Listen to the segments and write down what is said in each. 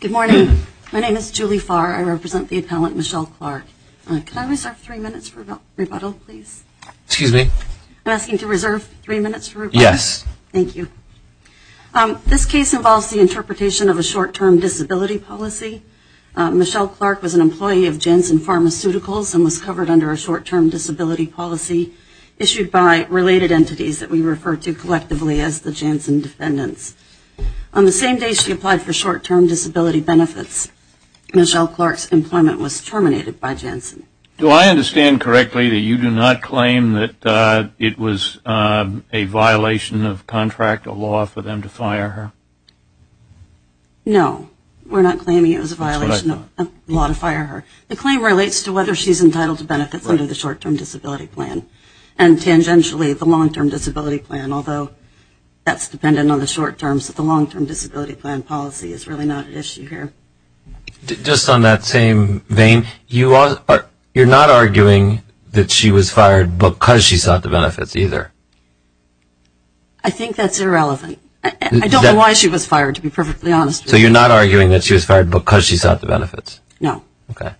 Good morning. My name is Julie Farr. I represent the appellant Michelle Clark. Can I reserve three minutes for rebuttal, please? Excuse me? I'm asking to reserve three minutes for rebuttal. Yes. Thank you. This case involves the interpretation of a short-term disability policy. Michelle Clark was an employee of Janssen Pharmaceuticals and was covered under a short-term disability policy issued by related entities that we refer to collectively as the Janssen Defendants. On the same day she applied for short-term disability benefits, Michelle Clark's employment was terminated by Janssen. Do I understand correctly that you do not claim that it was a violation of contract, a law for them to fire her? No. We're not claiming it was a violation of the law to fire her. The claim relates to whether she's entitled to benefits under the short-term disability plan and tangentially the long-term disability plan, although that's dependent on the short-term, so the long-term disability plan policy is really not an issue here. Just on that same vein, you're not arguing that she was fired because she sought the benefits either? I think that's irrelevant. I don't know why she was fired, to be perfectly honest with you. So you're not arguing that she was fired because she sought the benefits? No. Okay.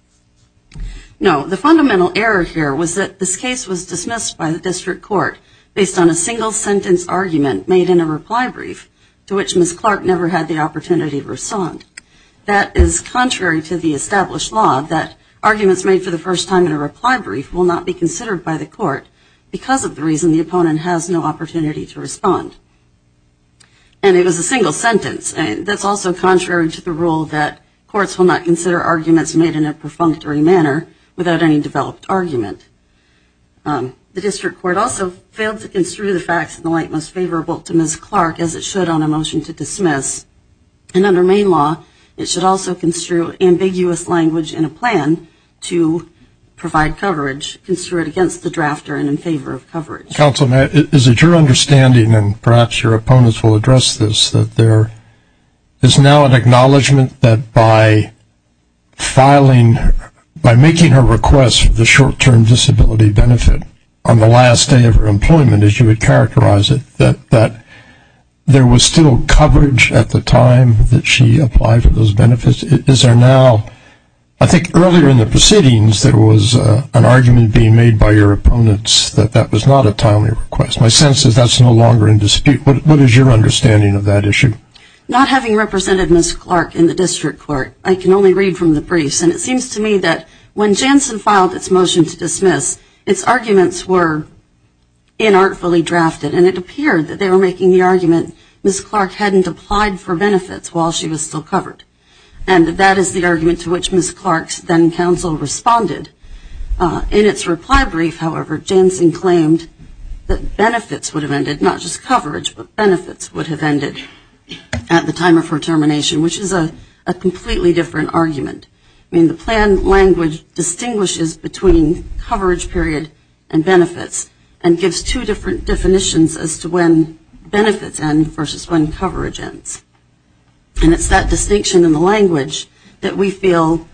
No. The fundamental error here was that this case was dismissed by the district court based on a single-sentence argument made in a reply brief to which Ms. Clark never had the opportunity to respond. That is contrary to the established law, that arguments made for the first time in a reply brief will not be considered by the court because of the reason the opponent has no opportunity to respond. And it was a single sentence. That's also contrary to the rule that courts will not consider arguments made in a perfunctory manner without any developed argument. The district court also failed to construe the facts in the light most favorable to Ms. Clark as it should on a motion to dismiss. And under Maine law, it should also construe ambiguous language in a plan to provide coverage, construe it against the drafter and in favor of coverage. Counsel, is it your understanding, and perhaps your opponents will address this, that there is now an acknowledgment that by filing, by making her request for the short-term disability benefit on the last day of her employment, as you would characterize it, that there was still coverage at the time that she applied for those benefits? Is there now, I think earlier in the proceedings, there was an argument being made by your opponents that that was not a timely request. My sense is that's no longer in dispute. What is your understanding of that issue? Not having represented Ms. Clark in the district court, I can only read from the briefs. And it seems to me that when Janssen filed its motion to dismiss, its arguments were inartfully drafted, and it appeared that they were making the argument Ms. Clark hadn't applied for benefits while she was still covered. And that is the argument to which Ms. Clark's then counsel responded. In its reply brief, however, Janssen claimed that benefits would have ended, not just coverage, but benefits would have ended at the time of her termination, which is a completely different argument. I mean, the plan language distinguishes between coverage period and benefits and gives two different definitions as to when benefits end versus when coverage ends. And it's that distinction in the language that we feel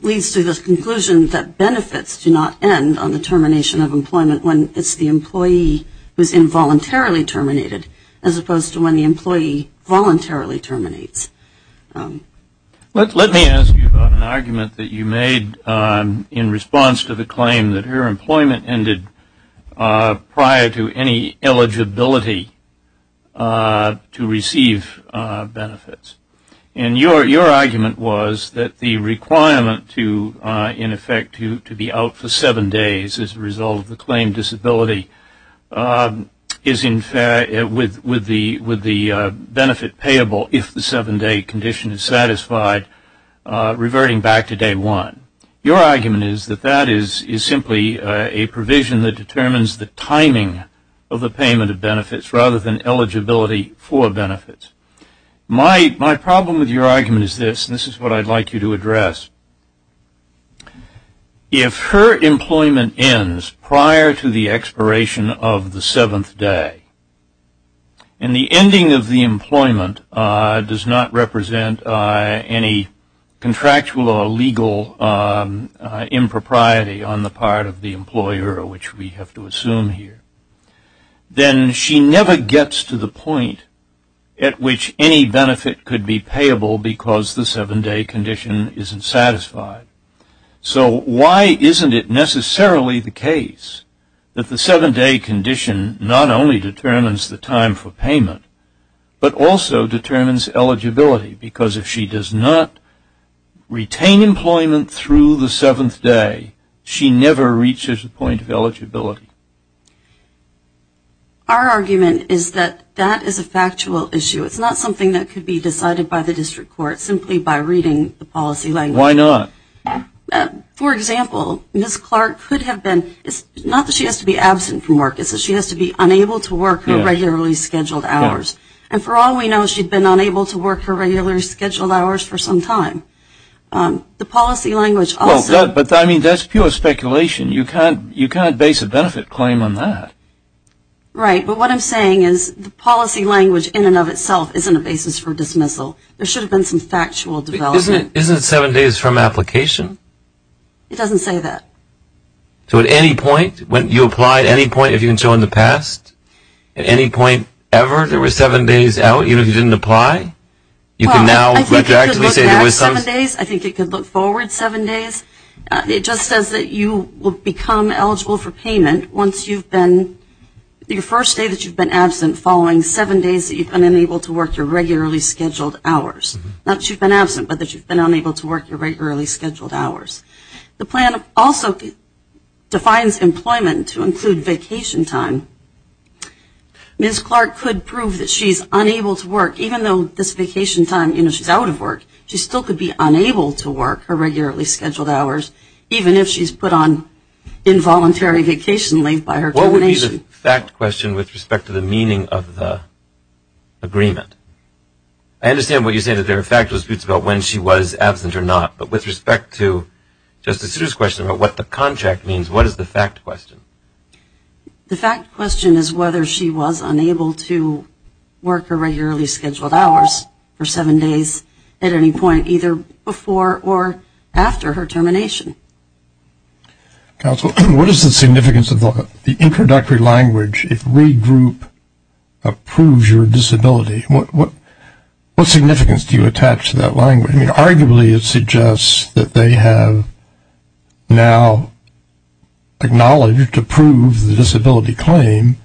leads to the conclusion that benefits do not end on the termination of employment when it's the employee who is involuntarily terminated as opposed to when the employee voluntarily terminates. Let me ask you about an argument that you made in response to the claim that her employment ended prior to any eligibility to receive benefits. And your argument was that the requirement to, in effect, to be out for seven days as a result of the claim disability is, in fact, with the benefit payable if the seven-day condition is satisfied, reverting back to day one. Your argument is that that is simply a provision that determines the timing of the payment of benefits rather than eligibility for benefits. My problem with your argument is this, and this is what I'd like you to address. If her employment ends prior to the expiration of the seventh day, and the ending of the employment does not represent any contractual or legal impropriety on the part of the employer, which we have to assume here, then she never gets to the point at which any benefit could be payable because the seven-day condition isn't satisfied. So why isn't it necessarily the case that the seven-day condition not only determines the time for payment, but also determines eligibility? Because if she does not retain employment through the seventh day, she never reaches the point of eligibility. Our argument is that that is a factual issue. It's not something that could be decided by the district court simply by reading the policy language. Why not? For example, Ms. Clark could have been, not that she has to be absent from work, it's that she has to be unable to work her regularly scheduled hours. And for all we know, she's been unable to work her regularly scheduled hours for some time. The policy language also... But that's pure speculation. You can't base a benefit claim on that. Right. But what I'm saying is the policy language in and of itself isn't a basis for dismissal. There should have been some factual development. Isn't it seven days from application? It doesn't say that. So at any point, when you apply, at any point, if you can show in the past, at any point ever, there was seven days out even if you didn't apply? You can now retroactively say there was seven days? I think it could look forward seven days. It just says that you will become eligible for payment once you've been, your first day that you've been absent following seven days that you've been unable to work your regularly scheduled hours. Not that you've been absent, but that you've been unable to work your regularly scheduled hours. The plan also defines employment to include vacation time. Ms. Clark could prove that she's unable to work, even though this vacation time, you know, she's out of work. She still could be unable to work her regularly scheduled hours, even if she's put on involuntary vacation leave by her termination. What would be the fact question with respect to the meaning of the agreement? I understand what you say that there are factual disputes about when she was absent or not, but with respect to Justice Sotomayor's question about what the contract means, what is the fact question? The fact question is whether she was unable to work her regularly scheduled hours for seven days at any point, either before or after her termination. Counsel, what is the significance of the introductory language if regroup approves your disability? What significance do you attach to that language? I mean, arguably it suggests that they have now acknowledged, approved the disability claim,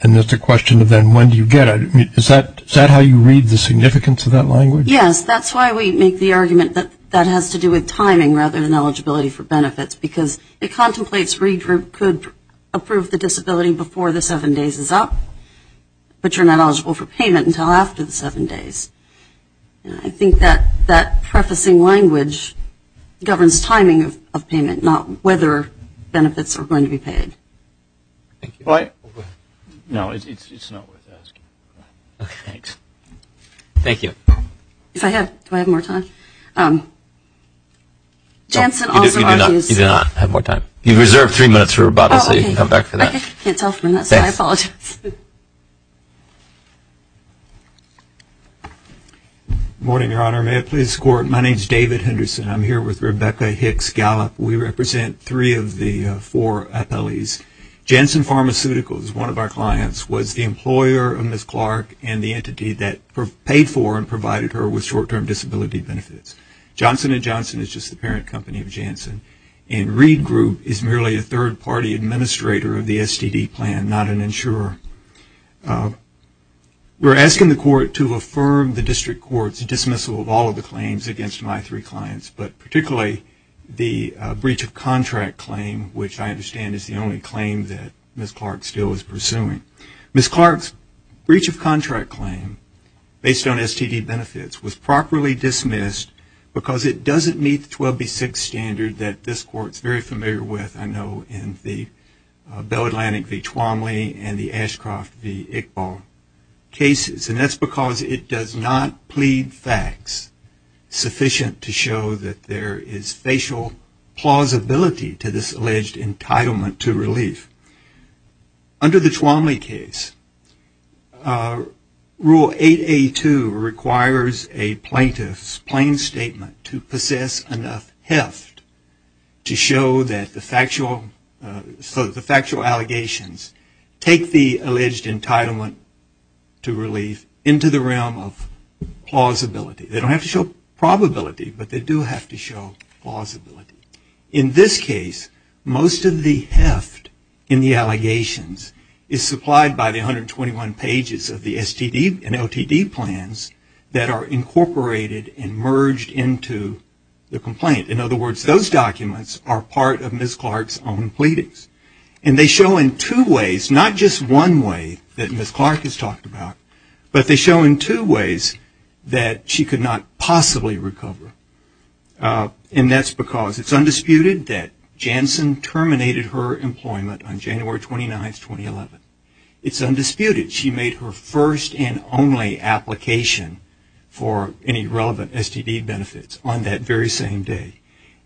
and it's a question of then when do you get it. Is that how you read the significance of that language? Yes, that's why we make the argument that that has to do with timing rather than eligibility for benefits, because it contemplates regroup could approve the disability before the seven days is up, but you're not eligible for payment until after the seven days. I think that prefacing language governs timing of payment, not whether benefits are going to be paid. Thank you. No, it's not worth asking. Okay, thanks. Thank you. If I have, do I have more time? You do not have more time. You've reserved three minutes for rebuttal, so you can come back for that. I can't tell from this, so I apologize. Good morning, Your Honor. May I please escort? My name is David Henderson. I'm here with Rebecca Hicks-Gallup. We represent three of the four appellees. Janssen Pharmaceuticals, one of our clients, was the employer of Ms. Clark and the entity that paid for and provided her with short-term disability benefits. Johnson & Johnson is just the parent company of Janssen, and Reed Group is merely a third-party administrator of the STD plan, not an insurer. We're asking the Court to affirm the District Court's dismissal of all of the claims against my three clients, but particularly the breach of contract claim, which I understand is the only claim that Ms. Clark still is pursuing. Ms. Clark's breach of contract claim, based on STD benefits, was properly dismissed because it doesn't meet the 12B6 standard that this Court is very familiar with, I know, in the Bell Atlantic v. Twomley and the Ashcroft v. Iqbal cases, and that's because it does not plead facts sufficient to show that there is facial plausibility to this alleged entitlement to relief. Under the Twomley case, Rule 8A2 requires a plaintiff's plain statement to possess enough heft to show that the factual allegations take the alleged entitlement to relief into the realm of plausibility. They don't have to show probability, but they do have to show plausibility. In this case, most of the heft in the allegations is supplied by the 121 pages of the STD and LTD plans that are incorporated and merged into the complaint. In other words, those documents are part of Ms. Clark's own pleadings, and they show in two ways, not just one way that Ms. Clark has talked about, but they show in two ways that she could not possibly recover, and that's because it's undisputed that Janssen terminated her employment on January 29, 2011. It's undisputed. She made her first and only application for any relevant STD benefits on that very same day,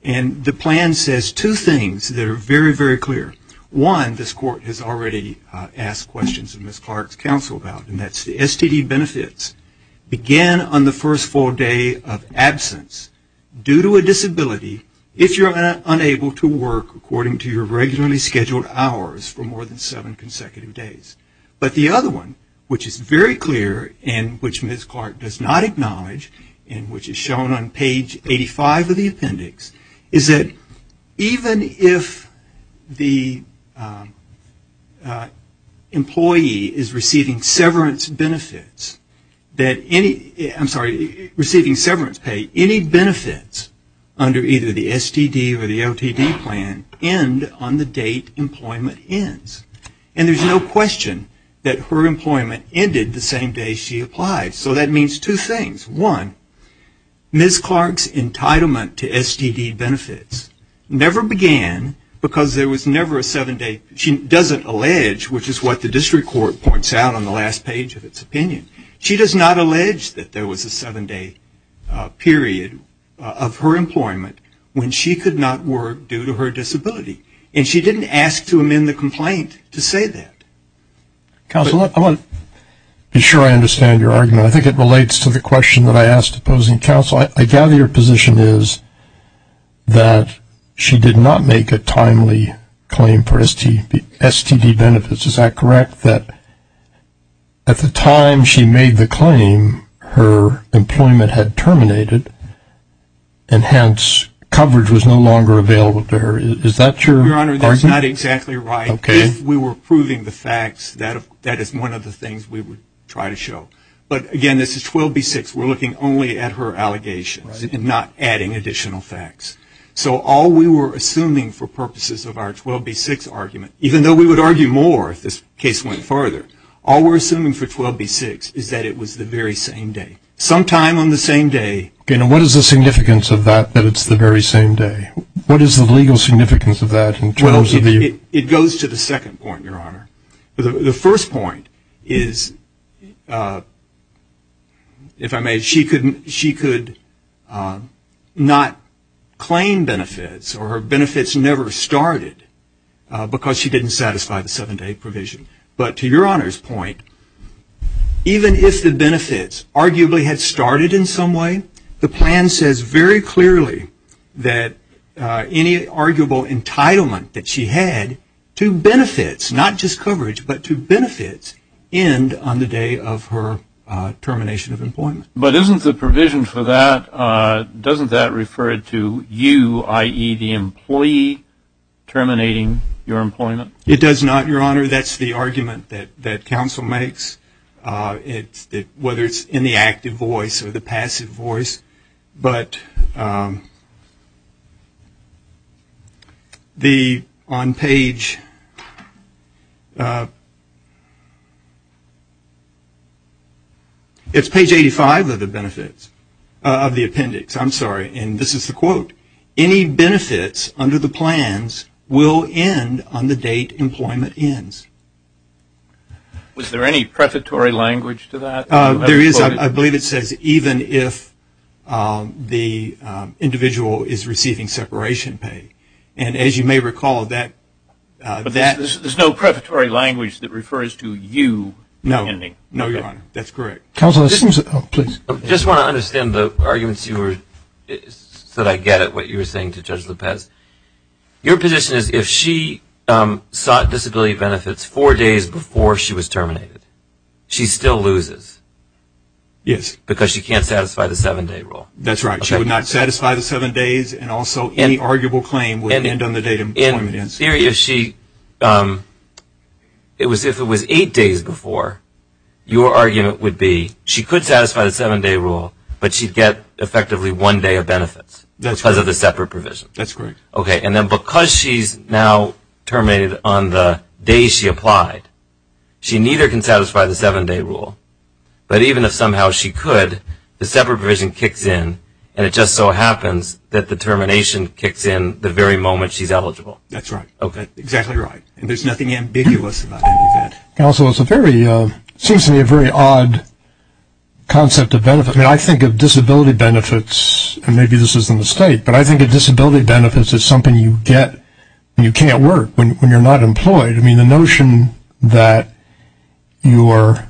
and the plan says two things that are very, very clear. One, this Court has already asked questions of Ms. Clark's counsel about, and that's the STD benefits begin on the first full day of absence due to a disability, if you're unable to work according to your regularly scheduled hours for more than seven consecutive days. But the other one, which is very clear, and which Ms. Clark does not acknowledge, and which is shown on page 85 of the appendix, is that even if the employee is receiving severance pay, any benefits under either the STD or the LTD plan end on the date employment ends, and there's no question that her employment ended the same day she applied. So that means two things. One, Ms. Clark's entitlement to STD benefits never began because there was never a seven-day, she doesn't allege, which is what the district court points out on the last page of its opinion, she does not allege that there was a seven-day period of her employment when she could not work due to her disability, and she didn't ask to amend the complaint to say that. Counsel, I want to be sure I understand your argument. I think it relates to the question that I asked opposing counsel. I gather your position is that she did not make a timely claim for STD benefits. Is that correct? That at the time she made the claim, her employment had terminated, and hence coverage was no longer available to her. Is that your argument? Your Honor, that's not exactly right. Okay. If we were proving the facts, that is one of the things we would try to show. But, again, this is 12b-6. We're looking only at her allegations and not adding additional facts. So all we were assuming for purposes of our 12b-6 argument, even though we would argue more if this case went further, all we're assuming for 12b-6 is that it was the very same day. Sometime on the same day. Okay. Now what is the significance of that, that it's the very same day? What is the legal significance of that in terms of the ---- It goes to the second point, Your Honor. The first point is, if I may, she could not claim benefits, or her benefits never started because she didn't satisfy the seven-day provision. But to Your Honor's point, even if the benefits arguably had started in some way, the plan says very clearly that any arguable entitlement that she had to benefits, not just coverage, but to benefits, end on the day of her termination of employment. But isn't the provision for that, doesn't that refer to you, i.e., the employee terminating your employment? It does not, Your Honor. That's the argument that counsel makes, whether it's in the active voice or the passive voice, but on page 85 of the appendix, I'm sorry, and this is the quote, any benefits under the plans will end on the date employment ends. Was there any prefatory language to that? There is. I believe it says even if the individual is receiving separation pay. And as you may recall, that ---- There's no prefatory language that refers to you ending. No, Your Honor. That's correct. I just want to understand the arguments that I get at what you were saying to Judge Lopez. Your position is if she sought disability benefits four days before she was terminated, she still loses. Yes. Because she can't satisfy the seven-day rule. That's right. She would not satisfy the seven days and also any arguable claim would end on the date employment ends. In theory, if it was eight days before, your argument would be she could satisfy the seven-day rule, but she'd get effectively one day of benefits because of the separate provision. That's correct. Okay. And then because she's now terminated on the day she applied, she neither can satisfy the seven-day rule. But even if somehow she could, the separate provision kicks in, and it just so happens that the termination kicks in the very moment she's eligible. That's right. Okay. Exactly right. There's nothing ambiguous about that. Counsel, it seems to me a very odd concept of benefit. I mean, I think of disability benefits, and maybe this is a mistake, but I think of disability benefits as something you get when you can't work, when you're not employed. I mean, the notion that your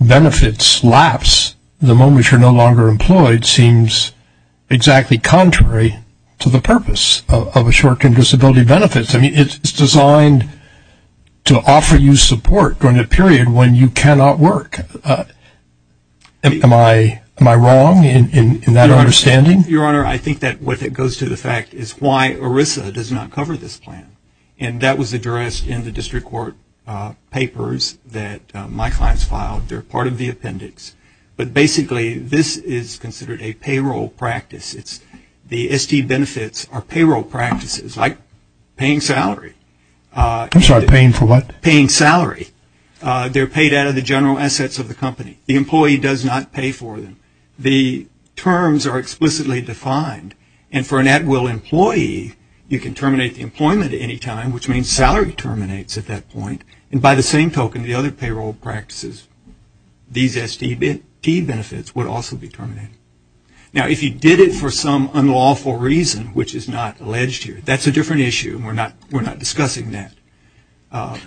benefits lapse the moment you're no longer employed seems exactly contrary to the purpose of a short-term disability benefit. I mean, it's designed to offer you support during a period when you cannot work. Am I wrong in that understanding? Your Honor, I think that what goes to the fact is why ERISA does not cover this plan, and that was addressed in the district court papers that my clients filed. They're part of the appendix. But basically this is considered a payroll practice. The ST benefits are payroll practices, like paying salary. I'm sorry, paying for what? Paying salary. They're paid out of the general assets of the company. The employee does not pay for them. The terms are explicitly defined. And for an at-will employee, you can terminate the employment at any time, which means salary terminates at that point. And by the same token, the other payroll practices, these ST benefits would also be terminated. Now, if you did it for some unlawful reason, which is not alleged here, that's a different issue. We're not discussing that.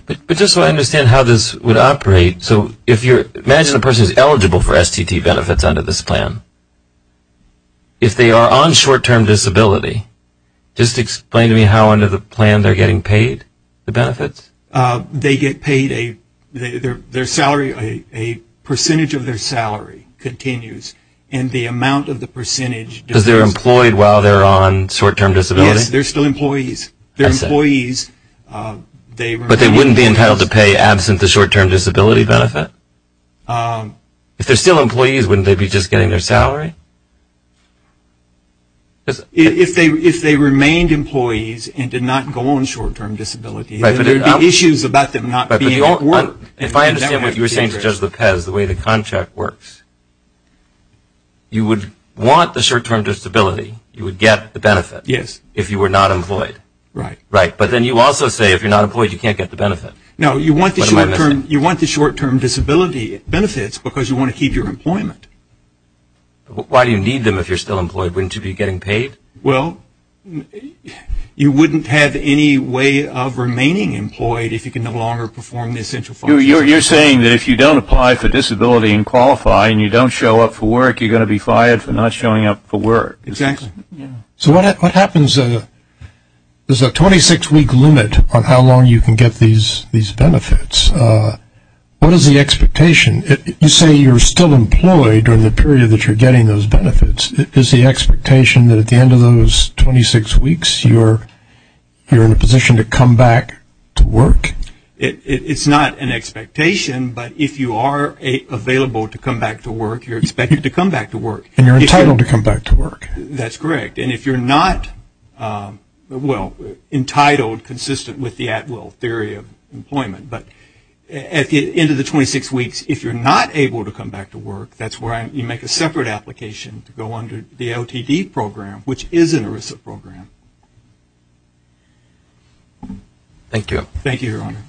But just so I understand how this would operate, imagine a person is eligible for STT benefits under this plan. If they are on short-term disability, just explain to me how under the plan they're getting paid the benefits? They get paid a percentage of their salary continues, and the amount of the percentage. Because they're employed while they're on short-term disability? Yes, they're still employees. They're employees. But they wouldn't be entitled to pay absent the short-term disability benefit? If they're still employees, wouldn't they be just getting their salary? If they remained employees and did not go on short-term disability, there would be issues about them not being able to work. If I understand what you were saying to Judge Lopez, the way the contract works, you would want the short-term disability. You would get the benefit if you were not employed. Right. But then you also say if you're not employed, you can't get the benefit. No, you want the short-term disability benefits because you want to keep your employment. Why do you need them if you're still employed? Wouldn't you be getting paid? Well, you wouldn't have any way of remaining employed if you could no longer perform the essential functions. You're saying that if you don't apply for disability and qualify and you don't show up for work, you're going to be fired for not showing up for work. Exactly. So what happens is a 26-week limit on how long you can get these benefits. What is the expectation? You say you're still employed during the period that you're getting those benefits. Is the expectation that at the end of those 26 weeks you're in a position to come back to work? It's not an expectation, but if you are available to come back to work, you're expected to come back to work. And you're entitled to come back to work. That's correct. And if you're not, well, entitled, consistent with the at-will theory of employment. But at the end of the 26 weeks, if you're not able to come back to work, that's where you make a separate application to go under the LTD program, which is an ERISA program. Thank you. Thank you, Your Honor.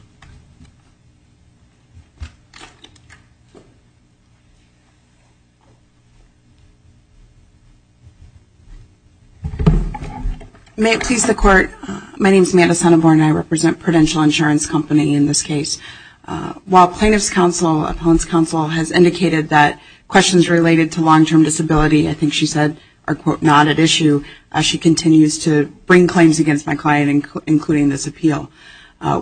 May it please the Court. My name is Madison Hunneborn and I represent Prudential Insurance Company in this case. While plaintiff's counsel, appellant's counsel, has indicated that questions related to long-term disability, I think she said, are, quote, not at issue. She continues to bring claims against my client, including this appeal.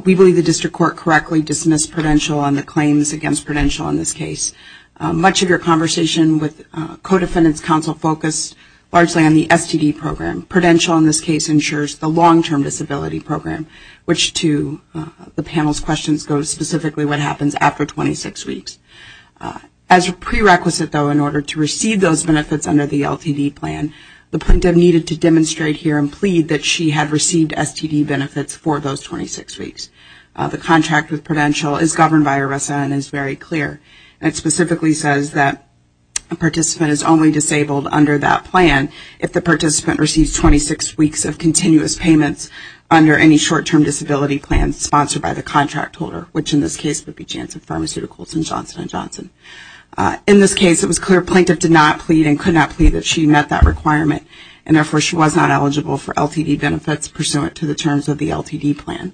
We believe the district court correctly dismissed Prudential on the claims against Prudential in this case. Much of your conversation with co-defendant's counsel focused largely on the STD program. Prudential, in this case, ensures the long-term disability program, which to the panel's questions goes specifically what happens after 26 weeks. As a prerequisite, though, in order to receive those benefits under the LTD plan, the plaintiff needed to demonstrate here and plead that she had received STD benefits for those 26 weeks. The contract with Prudential is governed by ERISA and is very clear. It specifically says that a participant is only disabled under that plan if the participant receives 26 weeks of continuous payments under any short-term disability plan sponsored by the contract holder, which in this case would be Janssen Pharmaceuticals and Johnson & Johnson. In this case, it was clear the plaintiff did not plead and could not plead that she met that requirement and therefore she was not eligible for LTD benefits pursuant to the terms of the LTD plan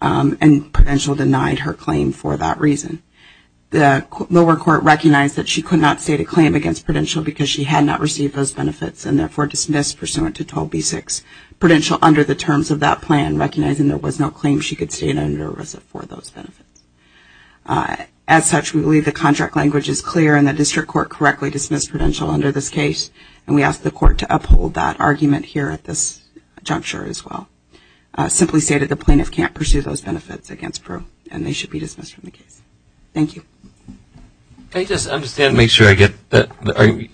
and Prudential denied her claim for that reason. The lower court recognized that she could not state a claim against Prudential because she had not received those benefits and therefore dismissed pursuant to 12b-6 Prudential under the terms of that plan, recognizing there was no claim she could state under ERISA for those benefits. As such, we believe the contract language is clear and the district court correctly dismissed Prudential under this case and we ask the court to uphold that argument here at this juncture as well. Simply stated, the plaintiff can't pursue those benefits against Prue and they should be dismissed from the case. Thank you. Can I just understand and make sure I get that?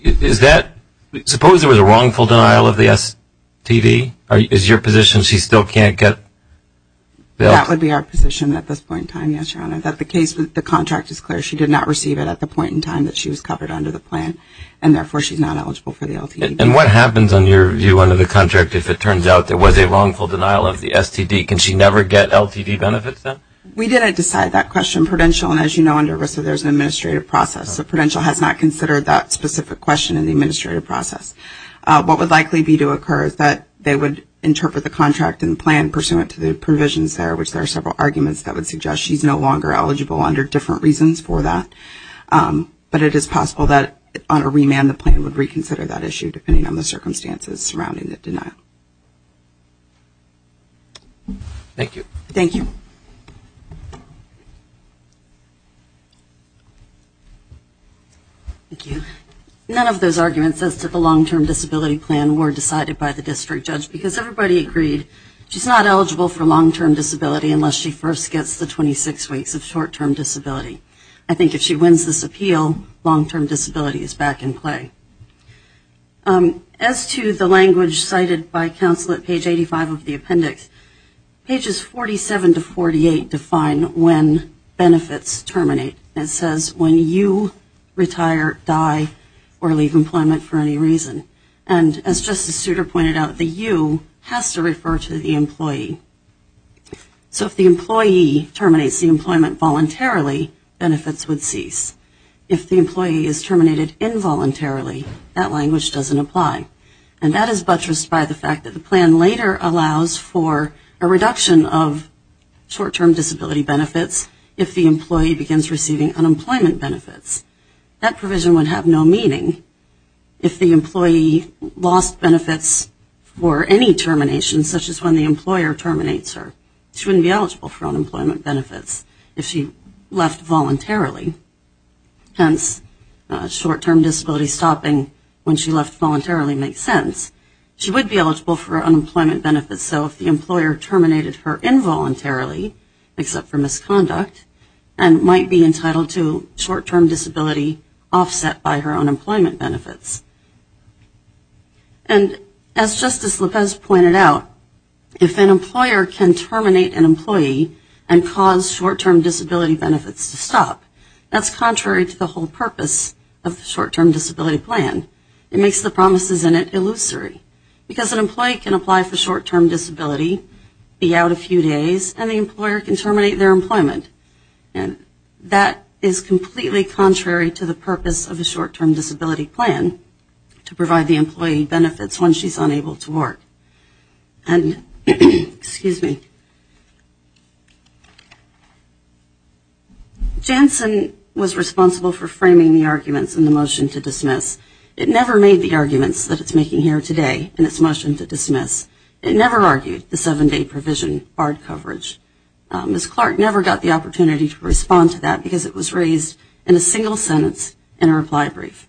Is that, suppose there was a wrongful denial of the STD? Is your position she still can't get the LTD? That would be our position at this point in time, yes, Your Honor. That the case with the contract is clear. She did not receive it at the point in time that she was covered under the plan and therefore she's not eligible for the LTD. And what happens, in your view, under the contract if it turns out there was a wrongful denial of the STD? Can she never get LTD benefits then? We didn't decide that question. Prudential, and as you know, under ERISA there's an administrative process. So Prudential has not considered that specific question in the administrative process. What would likely be to occur is that they would interpret the contract and plan pursuant to the provisions there, which there are several arguments that would suggest she's no longer eligible under different reasons for that. But it is possible that on a remand the plan would reconsider that issue depending on the circumstances surrounding the denial. Thank you. Thank you. None of those arguments as to the long-term disability plan were decided by the district judge because everybody agreed she's not eligible for long-term disability unless she first gets the 26 weeks of short-term disability. I think if she wins this appeal, long-term disability is back in play. As to the language cited by counsel at page 85 of the appendix, pages 47 to 48 define when benefits terminate. It says when you retire, die, or leave employment for any reason. And as Justice Souter pointed out, the U has to refer to the employee. So if the employee terminates the employment voluntarily, benefits would cease. If the employee is terminated involuntarily, that language doesn't apply. And that is buttressed by the fact that the plan later allows for a reduction of short-term disability benefits if the employee begins receiving unemployment benefits. That provision would have no meaning if the employee lost benefits for any termination, such as when the employer terminates her. She wouldn't be eligible for unemployment benefits if she left voluntarily. Hence, short-term disability stopping when she left voluntarily makes sense. She would be eligible for unemployment benefits, so if the employer terminated her involuntarily, except for misconduct, and might be entitled to short-term disability offset by her unemployment benefits. And as Justice Lopez pointed out, if an employer can terminate an employee and cause short-term disability benefits to stop, that's contrary to the whole purpose of the short-term disability plan. It makes the promises in it illusory. Because an employee can apply for short-term disability, be out a few days, and the employer can terminate their employment. And that is completely contrary to the purpose of a short-term disability plan to provide the employee benefits when she's unable to work. And, excuse me. Janssen was responsible for framing the arguments in the motion to dismiss. It never made the arguments that it's making here today in its motion to dismiss. It never argued the seven-day provision barred coverage. Ms. Clark never got the opportunity to respond to that because it was raised in a single sentence in a reply brief.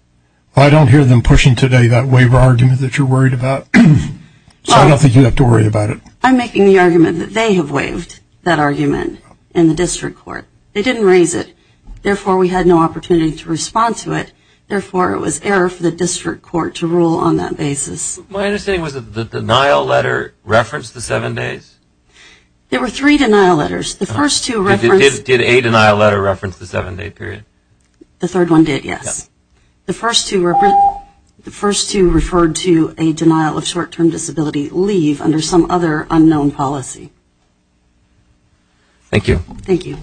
Well, I don't hear them pushing today that waiver argument that you're worried about. So I don't think you have to worry about it. I'm making the argument that they have waived that argument in the district court. They didn't raise it. Therefore, we had no opportunity to respond to it. Therefore, it was error for the district court to rule on that basis. My understanding was that the denial letter referenced the seven days? There were three denial letters. Did a denial letter reference the seven-day period? The third one did, yes. The first two referred to a denial of short-term disability leave under some other unknown policy. Thank you. Thank you.